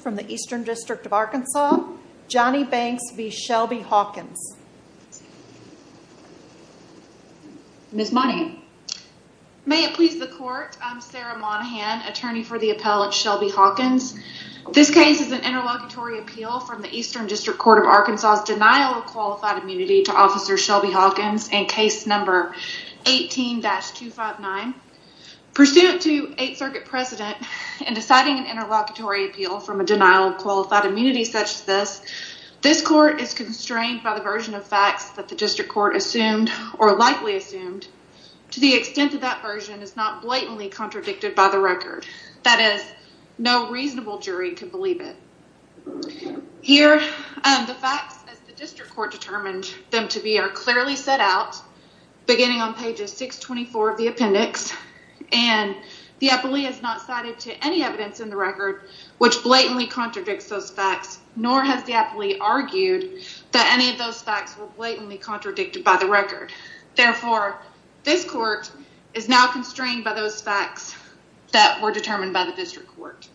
From the Eastern District of Arkansas, Johnny Banks v. Shelby Hawkins. Ms. Monahan. May it please the court, I'm Sarah Monahan, attorney for the appellate Shelby Hawkins. This case is an interlocutory appeal from the Eastern District Court of Arkansas's denial of qualified immunity to officer Shelby Hawkins in case number 18-259. Pursuant to Eighth Circuit precedent in deciding an interlocutory appeal from a denial of qualified immunity such as this, this court is constrained by the version of facts that the district court assumed or likely assumed to the extent that that version is not blatantly contradicted by the record. That is, no reasonable jury can believe it. Here, the facts as the district court determined them to be are clearly set out beginning on pages 624 of the appendix and the appellee is not cited to any evidence in the record which blatantly contradicts those facts, nor has the appellee argued that any of those facts were blatantly contradicted by the record. Therefore, this court is now constrained by those facts that were determined by the district court.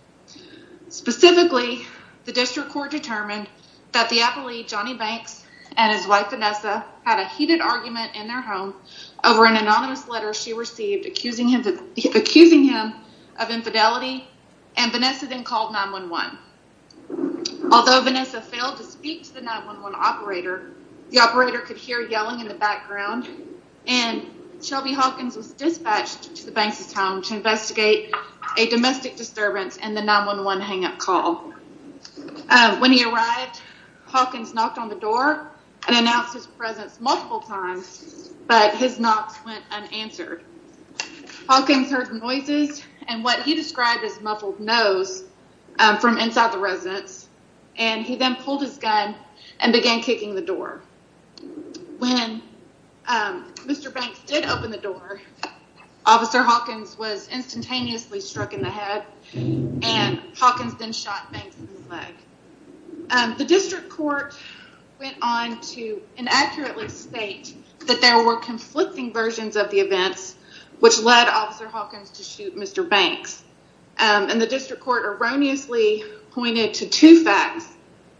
Specifically, the district court determined that the appellee Johnny Banks and his wife Vanessa had a heated argument in their home over an anonymous letter she received accusing him of infidelity and Vanessa then called 9-1-1. Although Vanessa failed to speak to the 9-1-1 operator, the operator could hear yelling in the background and Shelby Hawkins was dispatched to the Banks' home to investigate a domestic disturbance in the 9-1-1 hang up call. When he arrived, Hawkins knocked on the door and announced his presence multiple times but his knocks went unanswered. Hawkins heard noises and what he described as muffled nose from inside the residence and he then pulled his gun and began kicking the door. When Mr. Banks did open the door, Officer Hawkins was instantaneously struck in the head and Hawkins then shot Banks in the leg. The district court went on to inaccurately state that there were conflicting versions of the events which led Officer Hawkins to shoot Mr. Banks and the district court erroneously pointed to two facts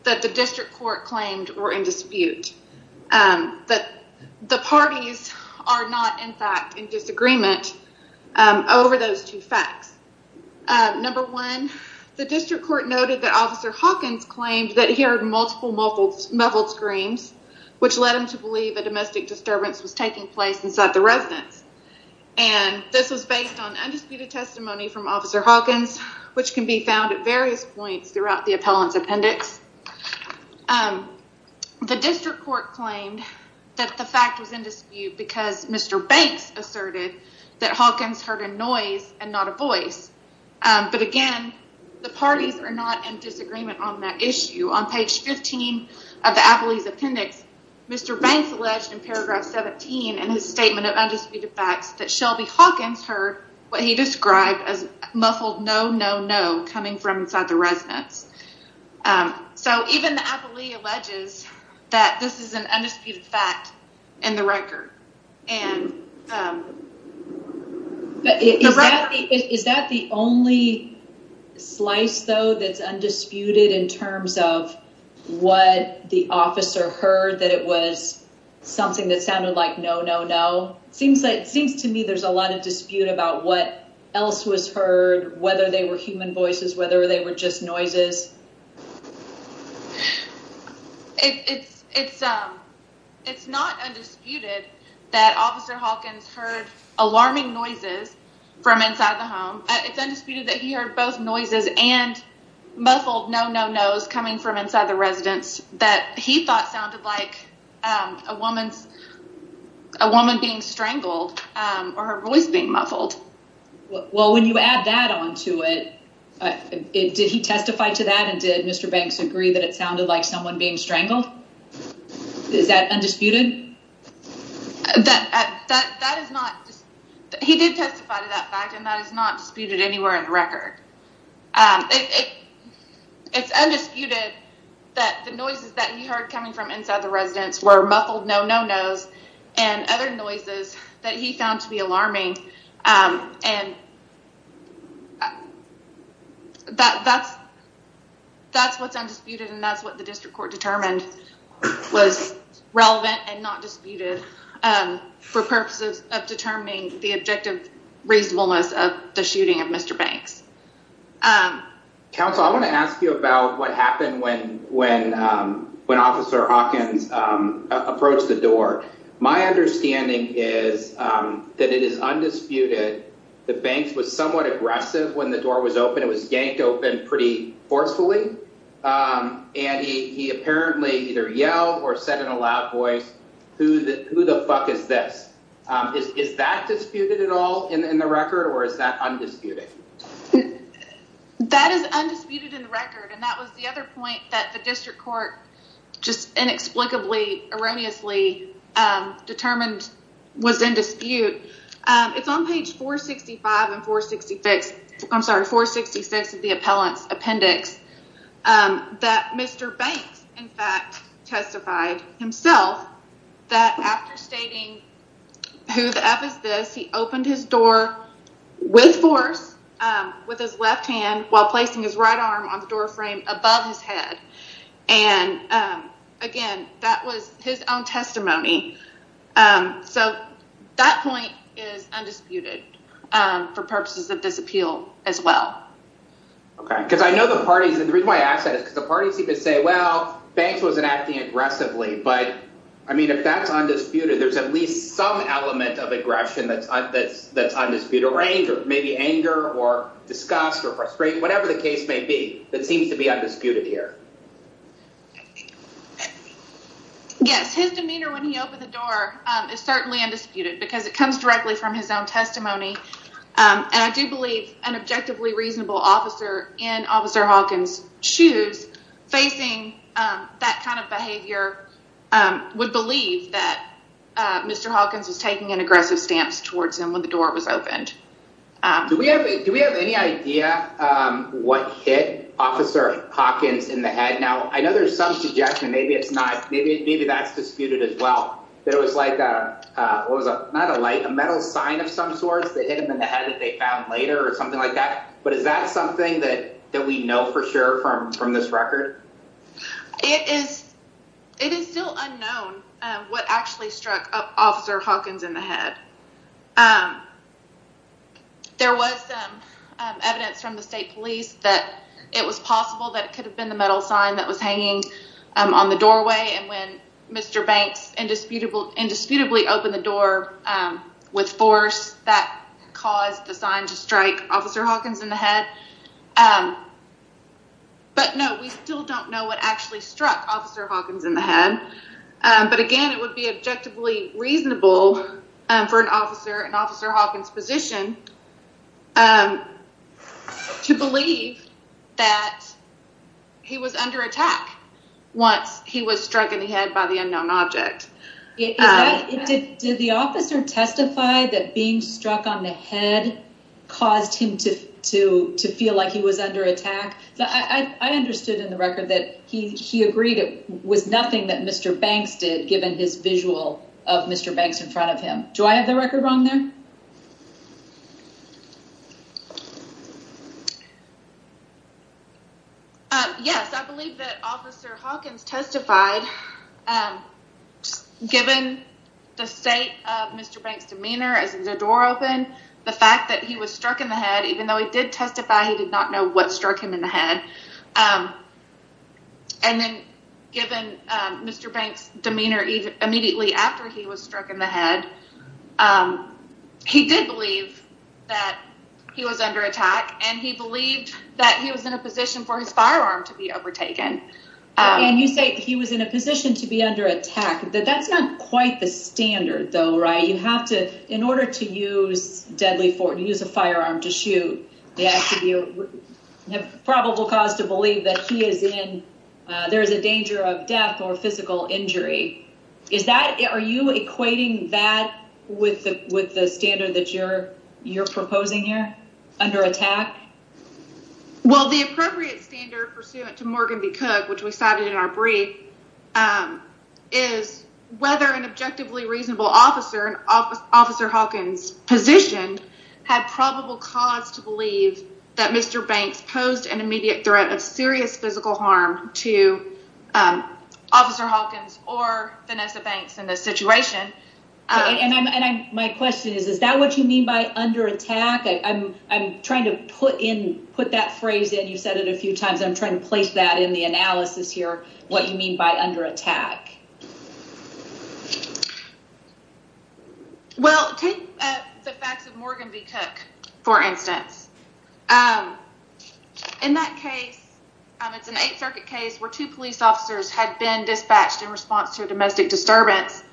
that the district court claimed were in dispute. The parties are not in fact in disagreement over those two facts. Number one, the district court noted that Officer Hawkins claimed that he heard multiple muffled screams which led him to believe a domestic disturbance was taking place inside the residence and this was based on undisputed testimony from Officer Hawkins which can be claimed that the fact was in dispute because Mr. Banks asserted that Hawkins heard a noise and not a voice but again the parties are not in disagreement on that issue. On page 15 of the appellee's appendix, Mr. Banks alleged in paragraph 17 in his statement of undisputed facts that Shelby Hawkins heard what he described as muffled no no no coming from inside the residence. So even the appellee alleges that this is an undisputed fact in the record and Is that the only slice though that's undisputed in terms of what the officer heard that it was something that sounded like no no no? It seems to me there's a lot of dispute about what was heard whether they were human voices whether they were just noises. It's not undisputed that Officer Hawkins heard alarming noises from inside the home. It's undisputed that he heard both noises and muffled no no no's coming from inside the residence that he thought sounded like a woman being strangled or her voice being muffled. Well when you add that on to it, did he testify to that and did Mr. Banks agree that it sounded like someone being strangled? Is that undisputed? He did testify to that fact and that is not disputed anywhere in the record. It's undisputed that the noises that he heard coming from inside the residence were muffled no no no's and other noises that he found to be alarming. That's what's undisputed and that's what the district court determined was relevant and not disputed for purposes of determining the objective reasonableness of the shooting of Mr. Banks. Counsel, I want to ask you about what My understanding is that it is undisputed that Banks was somewhat aggressive when the door was open. It was yanked open pretty forcefully and he apparently either yelled or said in a loud voice who the who the fuck is this? Is that disputed at all in the record or is that undisputed? That is undisputed in the record and that was the other point that the district court just inexplicably erroneously determined was in dispute. It's on page 465 and 466 I'm sorry 466 of the appellant's appendix that Mr. Banks in fact testified himself that after stating who the f is this he opened his door with force with his left hand while again that was his own testimony. So that point is undisputed for purposes of this appeal as well. Okay because I know the parties and the reason why I asked that is because the parties seem to say well Banks wasn't acting aggressively but I mean if that's undisputed there's at least some element of aggression that's that's that's undisputed range or maybe anger or disgust or frustration whatever the case may be that seems to be undisputed here. Yes his demeanor when he opened the door is certainly undisputed because it comes directly from his own testimony and I do believe an objectively reasonable officer in Officer Hawkins's shoes facing that kind of behavior would believe that Mr. Hawkins was taking an what hit officer Hawkins in the head now I know there's some suggestion maybe it's not maybe maybe that's disputed as well that it was like a what was a not a light a metal sign of some sorts that hit him in the head that they found later or something like that but is that something that that we know for sure from from this record. It is it is still unknown what actually struck Officer Hawkins in the head. There was some evidence from the state police that it was possible that it could have been the metal sign that was hanging on the doorway and when Mr. Banks indisputable indisputably opened the door with force that caused the sign to strike Officer Hawkins in the head but no we still don't know what actually struck Officer Hawkins in the head but again it would be objectively reasonable for an officer an officer Hawkins position to believe that he was under attack once he was struck in the head by the unknown object. Did the officer testify that being struck on the head caused him to to to feel like he was given his visual of Mr. Banks in front of him? Do I have the record wrong there? Yes I believe that Officer Hawkins testified given the state of Mr. Banks demeanor as the door opened the fact that he was struck in the head even though he did testify he did not know what struck him in the head and then given Mr. Banks demeanor even immediately after he was struck in the head he did believe that he was under attack and he believed that he was in a position for his firearm to be overtaken. And you say he was in a position to be under attack that that's not quite the standard though right you have to in order to use deadly force you use a firearm to probable cause to believe that he is in there is a danger of death or physical injury is that are you equating that with the with the standard that you're you're proposing here under attack? Well the appropriate standard pursuant to Morgan B. Cook which we cited in our brief is whether an objectively reasonable officer officer Hawkins positioned had probable cause to believe that Mr. Banks posed an immediate threat of serious physical harm to Officer Hawkins or Vanessa Banks in this situation. Okay and I'm and I my question is is that what you mean by under attack I'm I'm trying to put in put that phrase in you said it a few times I'm trying to place that in the analysis here what you mean by under attack? Well take the facts of Morgan B. Cook for instance in that case it's an Eighth Circuit case where two police officers had been dispatched in response to a domestic disturbance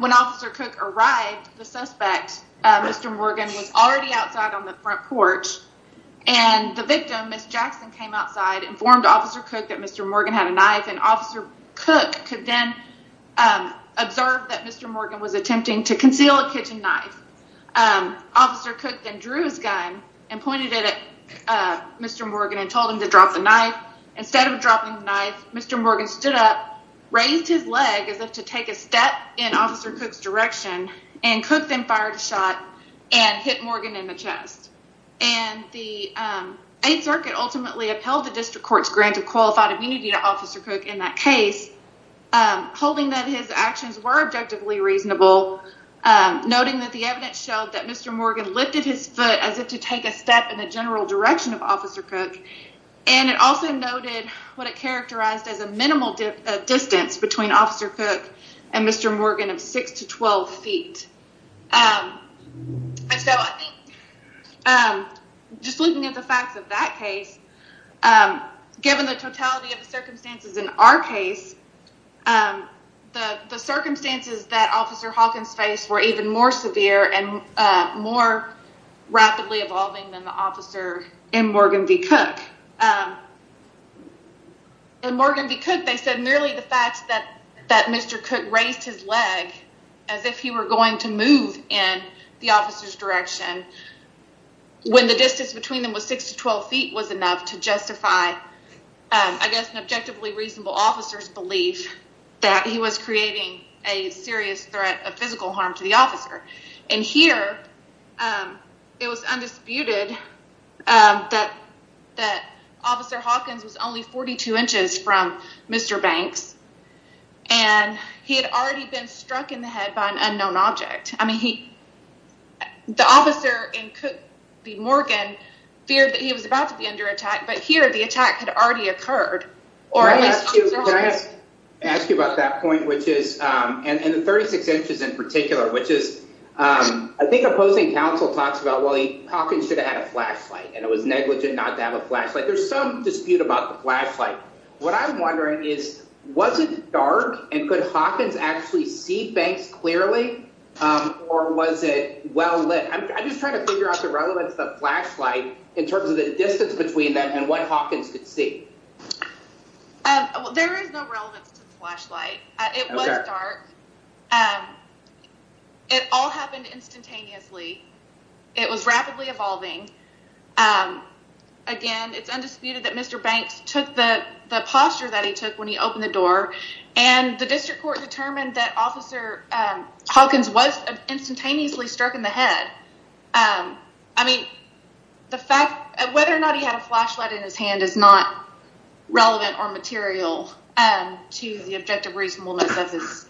when Officer Cook arrived the suspect Mr. Morgan was already outside on the front porch and the victim Miss Jackson came outside informed Officer Cook that Mr. Morgan had a knife and Officer Cook could be the suspect then observed that Mr. Morgan was attempting to conceal a kitchen knife Officer Cook then drew his gun and pointed it at Mr. Morgan and told him to drop the knife instead of dropping the knife Mr. Morgan stood up raised his leg as if to take a step in Officer Cook's direction and Cook then fired a shot and hit Morgan in the chest and the Eighth Circuit ultimately upheld the district court's grant of qualified immunity to Officer Cook in that case holding that his actions were objectively reasonable noting that the evidence showed that Mr. Morgan lifted his foot as if to take a step in the general direction of Officer Cook and it also noted what it characterized as a minimal distance between Officer Cook and Mr. Morgan of 6 to 12 feet and so I think just looking at the facts of that case given the totality of the circumstances in our case the circumstances that Officer Hawkins faced were even more severe and more rapidly evolving than the officer in Morgan v. Cook in Morgan v. Cook they said merely the fact that that Mr. Cook raised his leg as if he were going to move in the officer's direction when the distance between them was 6 to 12 feet was enough to justify I guess an objectively reasonable officer's belief that he was creating a serious threat of physical harm to the officer and here it was undisputed that that Officer Hawkins was 42 inches from Mr. Banks and he had already been struck in the head by an unknown object I mean he the officer in Cook v. Morgan feared that he was about to be under attack but here the attack had already occurred. Can I ask you about that point which is um and the 36 inches in particular which is um I think opposing counsel talks about well Hawkins should have had a flashlight and it was what I'm wondering is was it dark and could Hawkins actually see Banks clearly or was it well lit I'm just trying to figure out the relevance of flashlight in terms of the distance between them and what Hawkins could see. There is no relevance to the flashlight it was dark and it all happened instantaneously it was rapidly evolving again it's undisputed that Mr. Banks took the the posture that he took when he opened the door and the district court determined that Officer Hawkins was instantaneously struck in the head um I mean the fact whether or not he had a flashlight in his hand is not relevant or material um to the objective reasonableness of his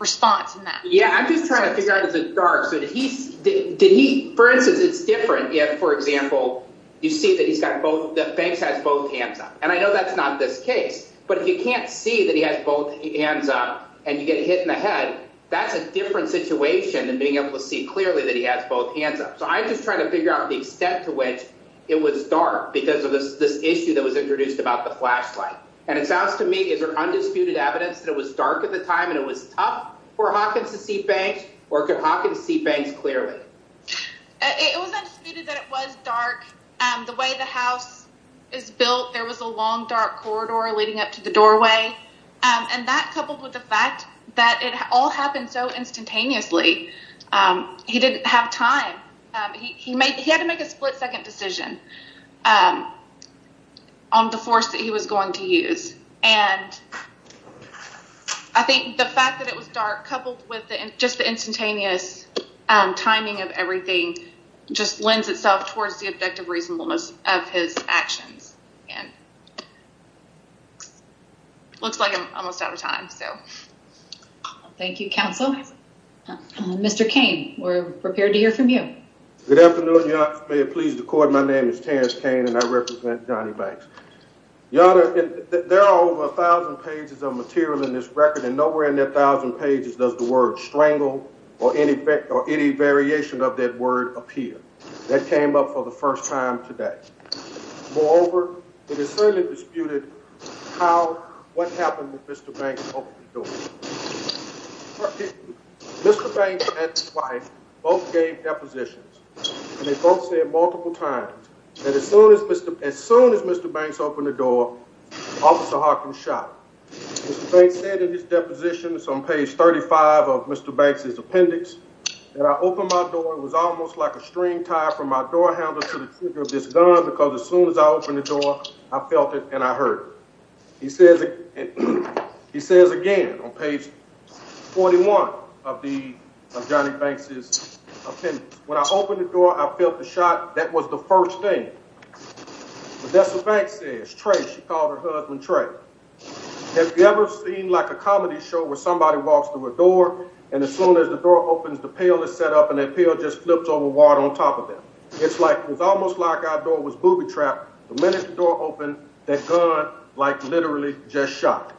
response in that. Yeah I'm just trying to figure out if it's dark so did he for instance it's different if for example you see that he's got both that Banks has both hands up and I know that's not this case but if you can't see that he has both hands up and you get hit in the head that's a different situation than being able to see clearly that he has both hands up so I'm just trying to figure out the extent to which it was dark because of this this issue that was introduced about the flashlight and it sounds to me is there undisputed evidence that it was dark at the time it was tough for Hawkins to see Banks or could Hawkins see Banks clearly. It was undisputed that it was dark um the way the house is built there was a long dark corridor leading up to the doorway and that coupled with the fact that it all happened so instantaneously he didn't have time he made he had to make a split-second decision um on the force that he was going to use and I think the fact that it was dark coupled with just the instantaneous um timing of everything just lends itself towards the objective reasonableness of his actions and looks like I'm almost out of time so. Thank you counsel. Mr. Kane we're pleased to court my name is Terrence Kane and I represent Johnny Banks. Your honor there are over a thousand pages of material in this record and nowhere in that thousand pages does the word strangle or any effect or any variation of that word appear that came up for the first time today moreover it is certainly disputed how what happened with Mr. Banks. Mr. Banks and his wife both gave depositions and they both said multiple times that as soon as Mr. as soon as Mr. Banks opened the door officer Hawkins shot. Mr. Banks said in his depositions on page 35 of Mr. Banks's appendix that I opened my door it was almost like a string tie from my door handle to the trigger of this gun because as soon as I opened the door I felt it and I heard it. He says he says again on page 41 of the of Johnny Banks's appendix when I opened the door I felt the shot that was the first thing but that's what Banks says Trey she called her husband Trey. Have you ever seen like a comedy show where somebody walks through a door and as soon as the door opens the pill is set up and that pill just flips over water on top of them. It's like it was almost like our door was booby-trapped the minute the door opened that gun like literally just shot.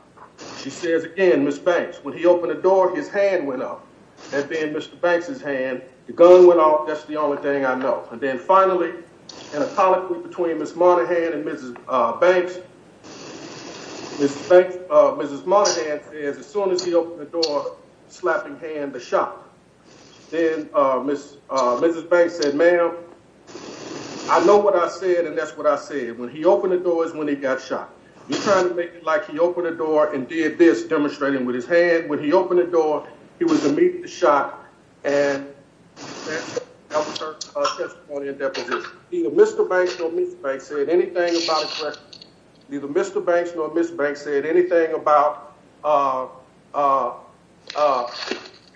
She says again Ms. Banks when he opened the door his hand went up and then Mr. Banks's hand the gun went off that's the only thing I know and then finally in a colloquy between Ms. Monaghan and Mrs. Banks. Mrs. Monaghan says as soon as he opened the door slapping hand the shot. Then Mrs. Banks said ma'am I know what I said and that's what I said when he opened the door is when he got shot. He's trying to make it like he opened the door and did this demonstrating with his hand when he opened the door he was immediately shot and that was her testimony and deposition. Neither Mr. Banks nor Mrs. Banks said anything about uh uh uh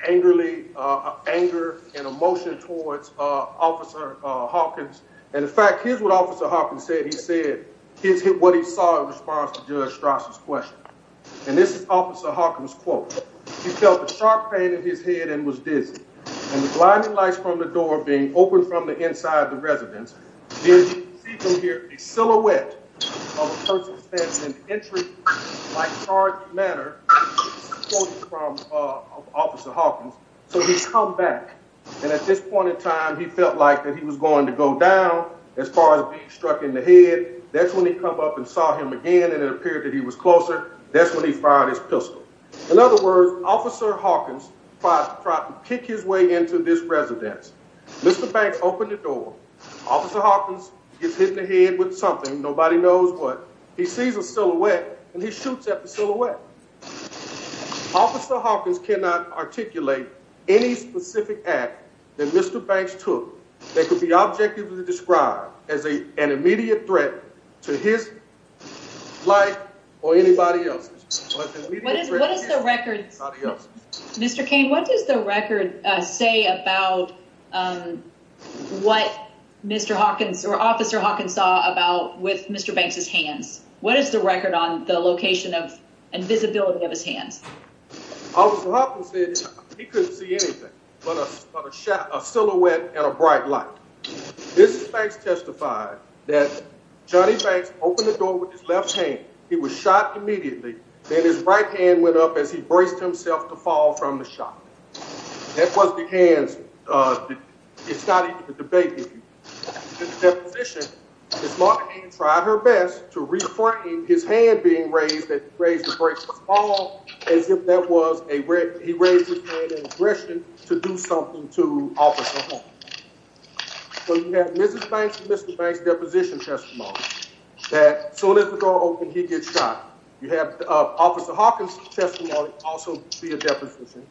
angrily uh anger and emotion towards uh officer uh Hawkins and in fact here's what officer Hawkins said he said his what he saw in response to Judge Strauss's question and this is officer Hawkins quote. He felt a sharp pain in his head and was dizzy and the blinding lights from the door being opened from the inside the residence you can see from here a silhouette of a person standing in the entry like charge manner from uh officer Hawkins so he come back and at this point in time he felt like that he was going to go down as far as being struck in the head that's when he come up and saw him again and it appeared that he was closer that's when he fired his pistol. In other words officer Hawkins tried to kick his way into this residence. Mr. Banks opened the door officer Hawkins gets hit in the head with something nobody knows but he sees a silhouette and he shoots at the silhouette. Officer Hawkins cannot articulate any specific act that Mr. Banks took that could be objectively described as a an immediate threat to his life or anybody else. What is what is the Mr. Kane what does the record uh say about um what Mr. Hawkins or officer Hawkins saw about with Mr. Banks's hands? What is the record on the location of and visibility of his hands? Officer Hawkins said he couldn't see anything but a shot a silhouette and a bright light. This is thanks testified that Johnny Banks opened the door with his left hand he was right hand went up as he braced himself to fall from the shot that was the hands uh it's not even a debate if you get the deposition his mother tried her best to reframe his hand being raised that raised the break was all as if that was a he raised his hand in aggression to do something to officer Hawkins. So you have Mrs. Banks and Mr. Banks deposition testimony that soon as the door opened he gets shot. You have officer Hawkins testimony also be a deposition.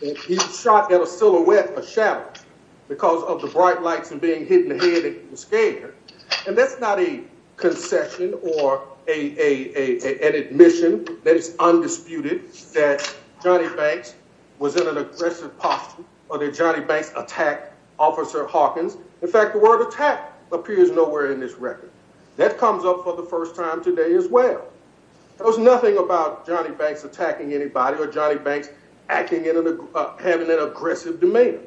He was shot at a silhouette a shadow because of the bright lights and being hit in the head it was scary and that's not a concession or a a a an admission that it's undisputed that Johnny Banks was in an aggressive posture or that Johnny Banks attacked officer Hawkins. In fact the word attack appears nowhere in this record that comes up for the first time today as well. There's nothing about Johnny Banks attacking anybody or Johnny Banks acting in an having an aggressive demeanor.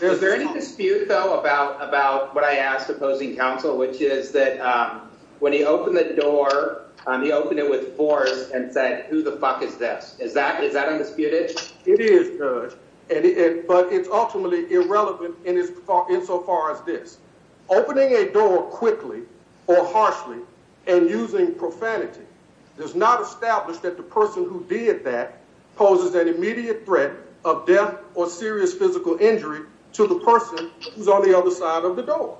Is there any dispute though about about what I asked opposing counsel which is that um when he opened the door um he opened it with force and said who the fuck is this is that is that undisputed? It is good and it but it's ultimately irrelevant in his insofar as this opening a door quickly or harshly and using profanity does not establish that the person who did that poses an immediate threat of death or serious physical injury to the person who's on the other side of the door.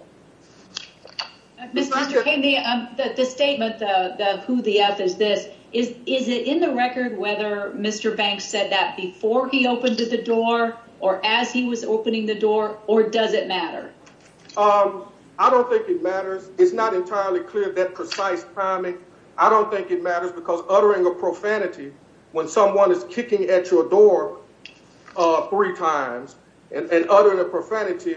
Mr. McCain the um the statement uh the who the f is this is is it in the record whether Mr. Banks said that before he opened the door or as he was opening the door or does it matter? Um I don't think it matters it's not entirely clear that precise timing I don't think it matters because uttering a profanity when someone is kicking at your door uh three times and and uttering a profanity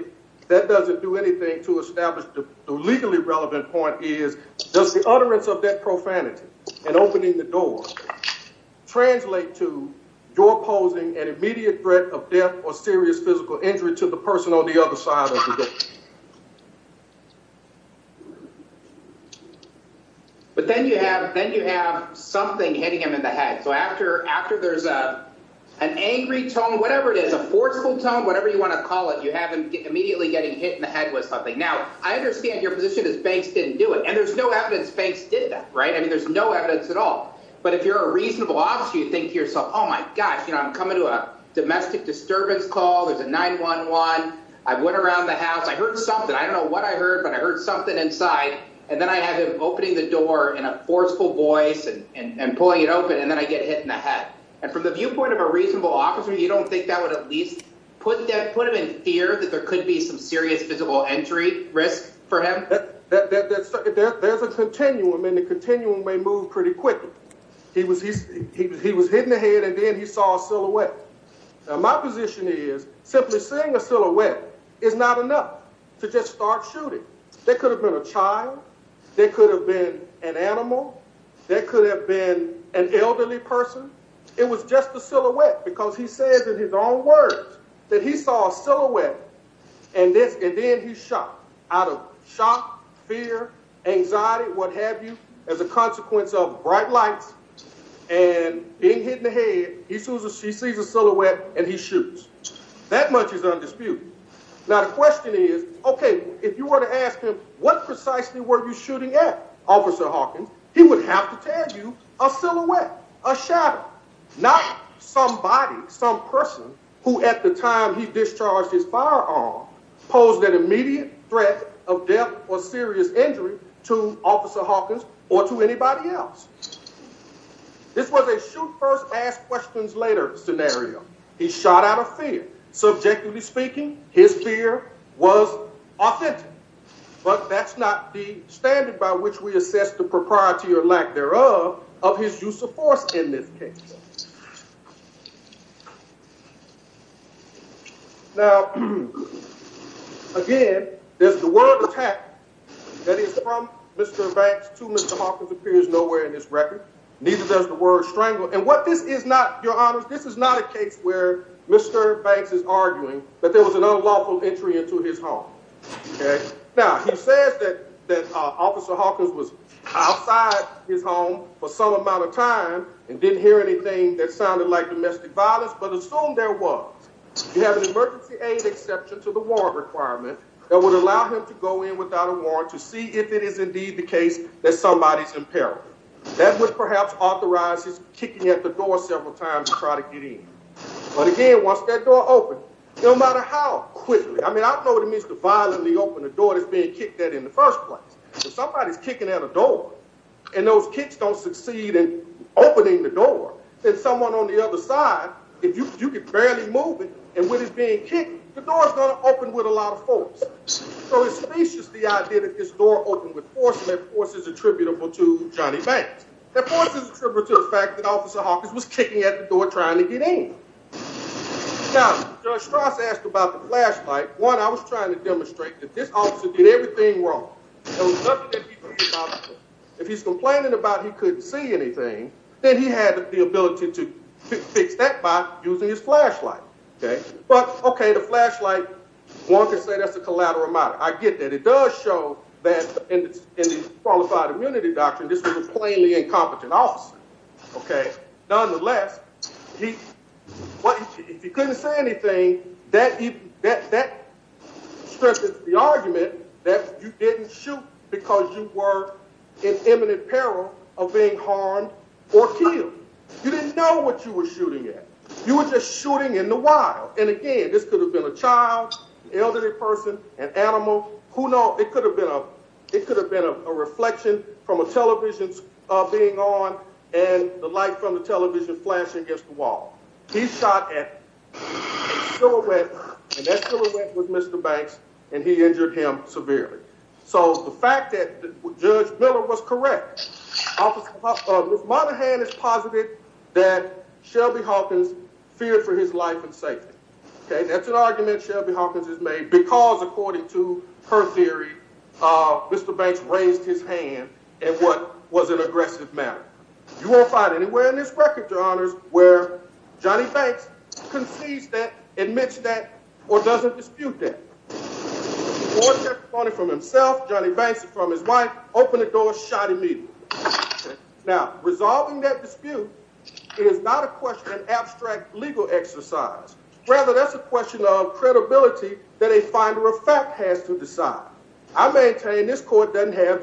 that doesn't do anything to establish the legally relevant point is does the utterance of that profanity and opening the door translate to you're posing an immediate threat of death or serious physical injury to the person on the other side of the door? But then you have then you have something hitting him in the head so after after there's a an angry tone whatever it is a forceful tone whatever you want to call it you have him immediately getting hit in the head with something. Now I understand your position is Banks didn't do and there's no evidence Banks did that right I mean there's no evidence at all but if you're a reasonable officer you think to yourself oh my gosh you know I'm coming to a domestic disturbance call there's a 9-1-1 I went around the house I heard something I don't know what I heard but I heard something inside and then I have him opening the door in a forceful voice and and pulling it open and then I get hit in the head and from the viewpoint of a reasonable officer you don't think that would at least put that put him in fear that there could be some serious physical injury for him? There's a continuum and the continuum may move pretty quickly he was he was he was hitting the head and then he saw a silhouette. Now my position is simply seeing a silhouette is not enough to just start shooting there could have been a child there could have been an animal there could have been an elderly person it was just a silhouette because he says in his own words that he saw a silhouette and this and then he shot out of shock fear anxiety what have you as a consequence of bright lights and being hit in the head he sees a silhouette and he shoots that much is undisputed. Now the question is okay if you were to ask him what precisely were you shooting at officer Hawkins he would have to tell you a silhouette a shadow not somebody some person who at the time he discharged his firearm posed an immediate threat of death or serious injury to officer Hawkins or to anybody else. This was a shoot first ask questions later scenario he shot out of fear subjectively speaking his fear was authentic but that's not the standard by which we assess the propriety or lack thereof of his use of force in this case. Now again there's the word attack that is from Mr. Banks to Mr. Hawkins appears nowhere in his record neither does the word strangle and what this is not your honors this is not a case where Mr. Banks is arguing that there was an unlawful entry into his home okay now he says that that officer Hawkins was outside his home for some amount of time and didn't hear anything that but assume there was you have an emergency aid exception to the warrant requirement that would allow him to go in without a warrant to see if it is indeed the case that somebody's in peril that would perhaps authorize his kicking at the door several times to try to get in but again once that door opened no matter how quickly I mean I don't know what it means to violently open the door that's being kicked at in the first place if somebody's kicking at a door and those kicks don't succeed in opening the door then someone on the other side if you could barely move it and when it's being kicked the door's going to open with a lot of force so it's specious the idea that this door opened with force and that force is attributable to Johnny Banks that force is attributable to the fact that officer Hawkins was kicking at the door trying to get in now Judge Strauss asked about the flashlight one I was trying to demonstrate that this officer did everything wrong there was nothing that he could do if he's complaining about he couldn't see anything then he had the ability to fix that by using his flashlight okay but okay the flashlight one could say that's a collateral matter I get that it does show that in the qualified immunity doctrine this was a plainly incompetent officer okay nonetheless he what if he couldn't say that that stretches the argument that you didn't shoot because you were in imminent peril of being harmed or killed you didn't know what you were shooting at you were just shooting in the wild and again this could have been a child elderly person an animal who knows it could have been a it could have been a reflection from a television uh being on and the light from the television flashing against the wall he shot at a silhouette and that silhouette was Mr. Banks and he injured him severely so the fact that Judge Miller was correct officer uh Miss Monaghan is positive that Shelby Hawkins feared for his life and safety okay that's an argument Shelby Hawkins has made because according to her theory uh Mr. Banks raised his hand in what was an aggressive manner you won't find anywhere in this record your honors where Johnny Banks concedes that admits that or doesn't dispute that or take the money from himself Johnny Banks from his wife open the door shot immediately now resolving that dispute it is not a question of abstract legal exercise rather that's a question of credibility that a finder of fact has to decide I maintain this court doesn't have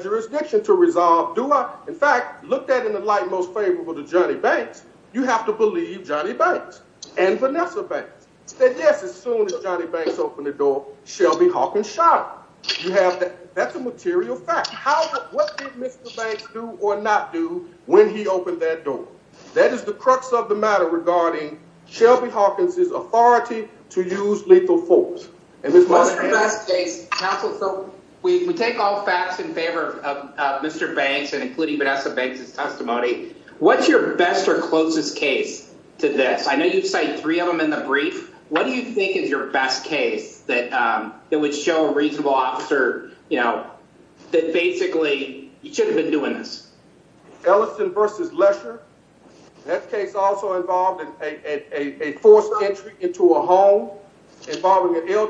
most favorable to Johnny Banks you have to believe Johnny Banks and Vanessa Banks that yes as soon as Johnny Banks opened the door Shelby Hawkins shot him you have that that's a material fact how what did Mr. Banks do or not do when he opened that door that is the crux of the matter regarding Shelby Hawkins's authority to use lethal force and this must be best case counsel so we take all facts in favor of uh Mr. Banks and including Vanessa Banks's testimony what's your best or closest case to this I know you've cited three of them in the brief what do you think is your best case that um that would show a reasonable officer you know that basically you should have been doing this Ellison versus Lesher that case also involved in a a forced entry into a home involving an that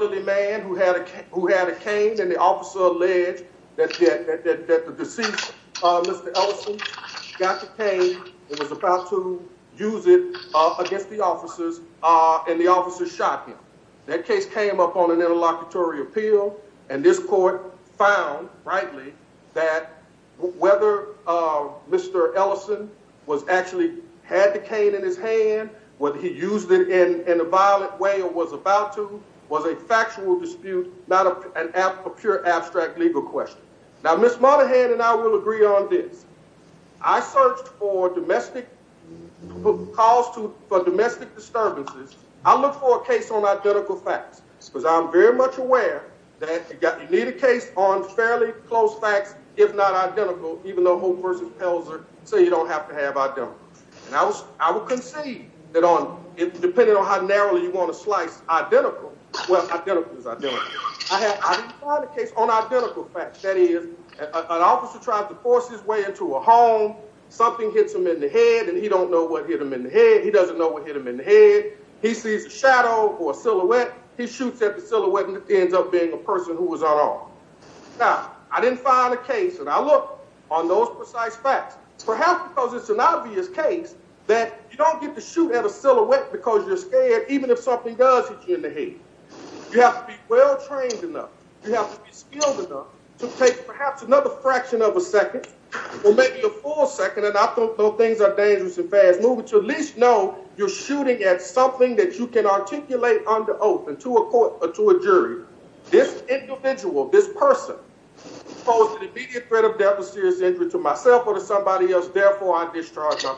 the deceased uh Mr. Ellison got the cane and was about to use it uh against the officers uh and the officers shot him that case came up on an interlocutory appeal and this court found rightly that whether uh Mr. Ellison was actually had the cane in his hand whether he used it in hand and I will agree on this I searched for domestic calls to for domestic disturbances I look for a case on identical facts because I'm very much aware that you got you need a case on fairly close facts if not identical even though Hope versus Pelzer say you don't have to have identical and I was I would concede that on it depending on how narrowly you want to slice identical well identical is identical I had I didn't find a case on identical facts that is an officer tried to force his way into a home something hits him in the head and he don't know what hit him in the head he doesn't know what hit him in the head he sees a shadow or a silhouette he shoots at the silhouette and it ends up being a person who was unarmed now I didn't find a case and I look on those precise facts perhaps because it's an obvious case that you don't get to shoot at a silhouette because you're scared even if something does hit you in the head you have to be well trained enough you have to be skilled enough to take perhaps another fraction of a second or maybe a full second and I don't know things are dangerous and fast moving to at least know you're shooting at something that you can articulate under oath and to a court or to a jury this individual this person posed an immediate threat of death or serious injury to myself or to somebody else therefore I discharged them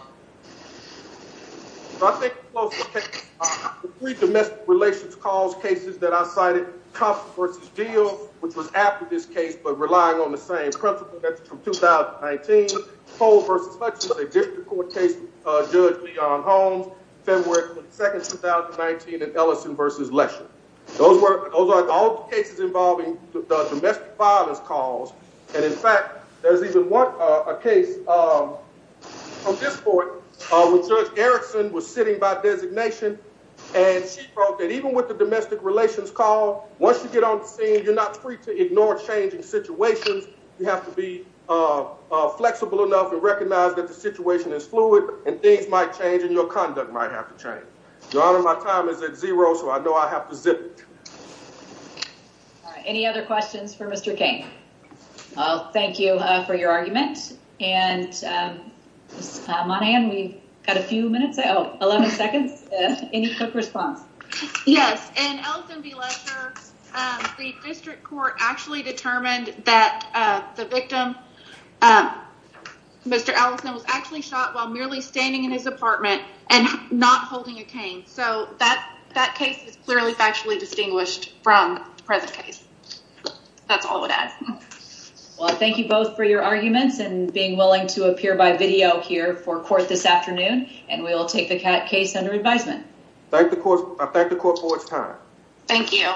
so I think the three domestic relations cause cases that I cited Thompson versus Deal which was after this case but relying on the same principle that's from 2019 Cole versus Hutchins a district court case uh Judge Leon Holmes February 22nd 2019 and Ellison versus Lesher those were those are all cases involving the domestic violence cause and in fact there's even one uh a case um from this court uh when Judge Erickson was sitting by designation and she wrote that even with the domestic relations call once you get on the scene you're not free to ignore changing situations you have to be uh flexible enough and recognize that the situation is fluid and things might change and your conduct might have to change your honor my time is at zero so I know I have to zip it all right any other questions for Mr. King well thank you uh for your argument and um Monann we've got a few minutes oh 11 seconds any quick response yes and Ellison v. Lesher um the district court actually determined that uh the victim um Mr. Ellison was actually shot while merely standing in his apartment and not holding a cane so that that case is clearly factually distinguished from the present case that's all that well thank you both for your arguments and being willing to appear by video here for court this afternoon and we will take the case under advisement thank the court I thank the court for its time thank you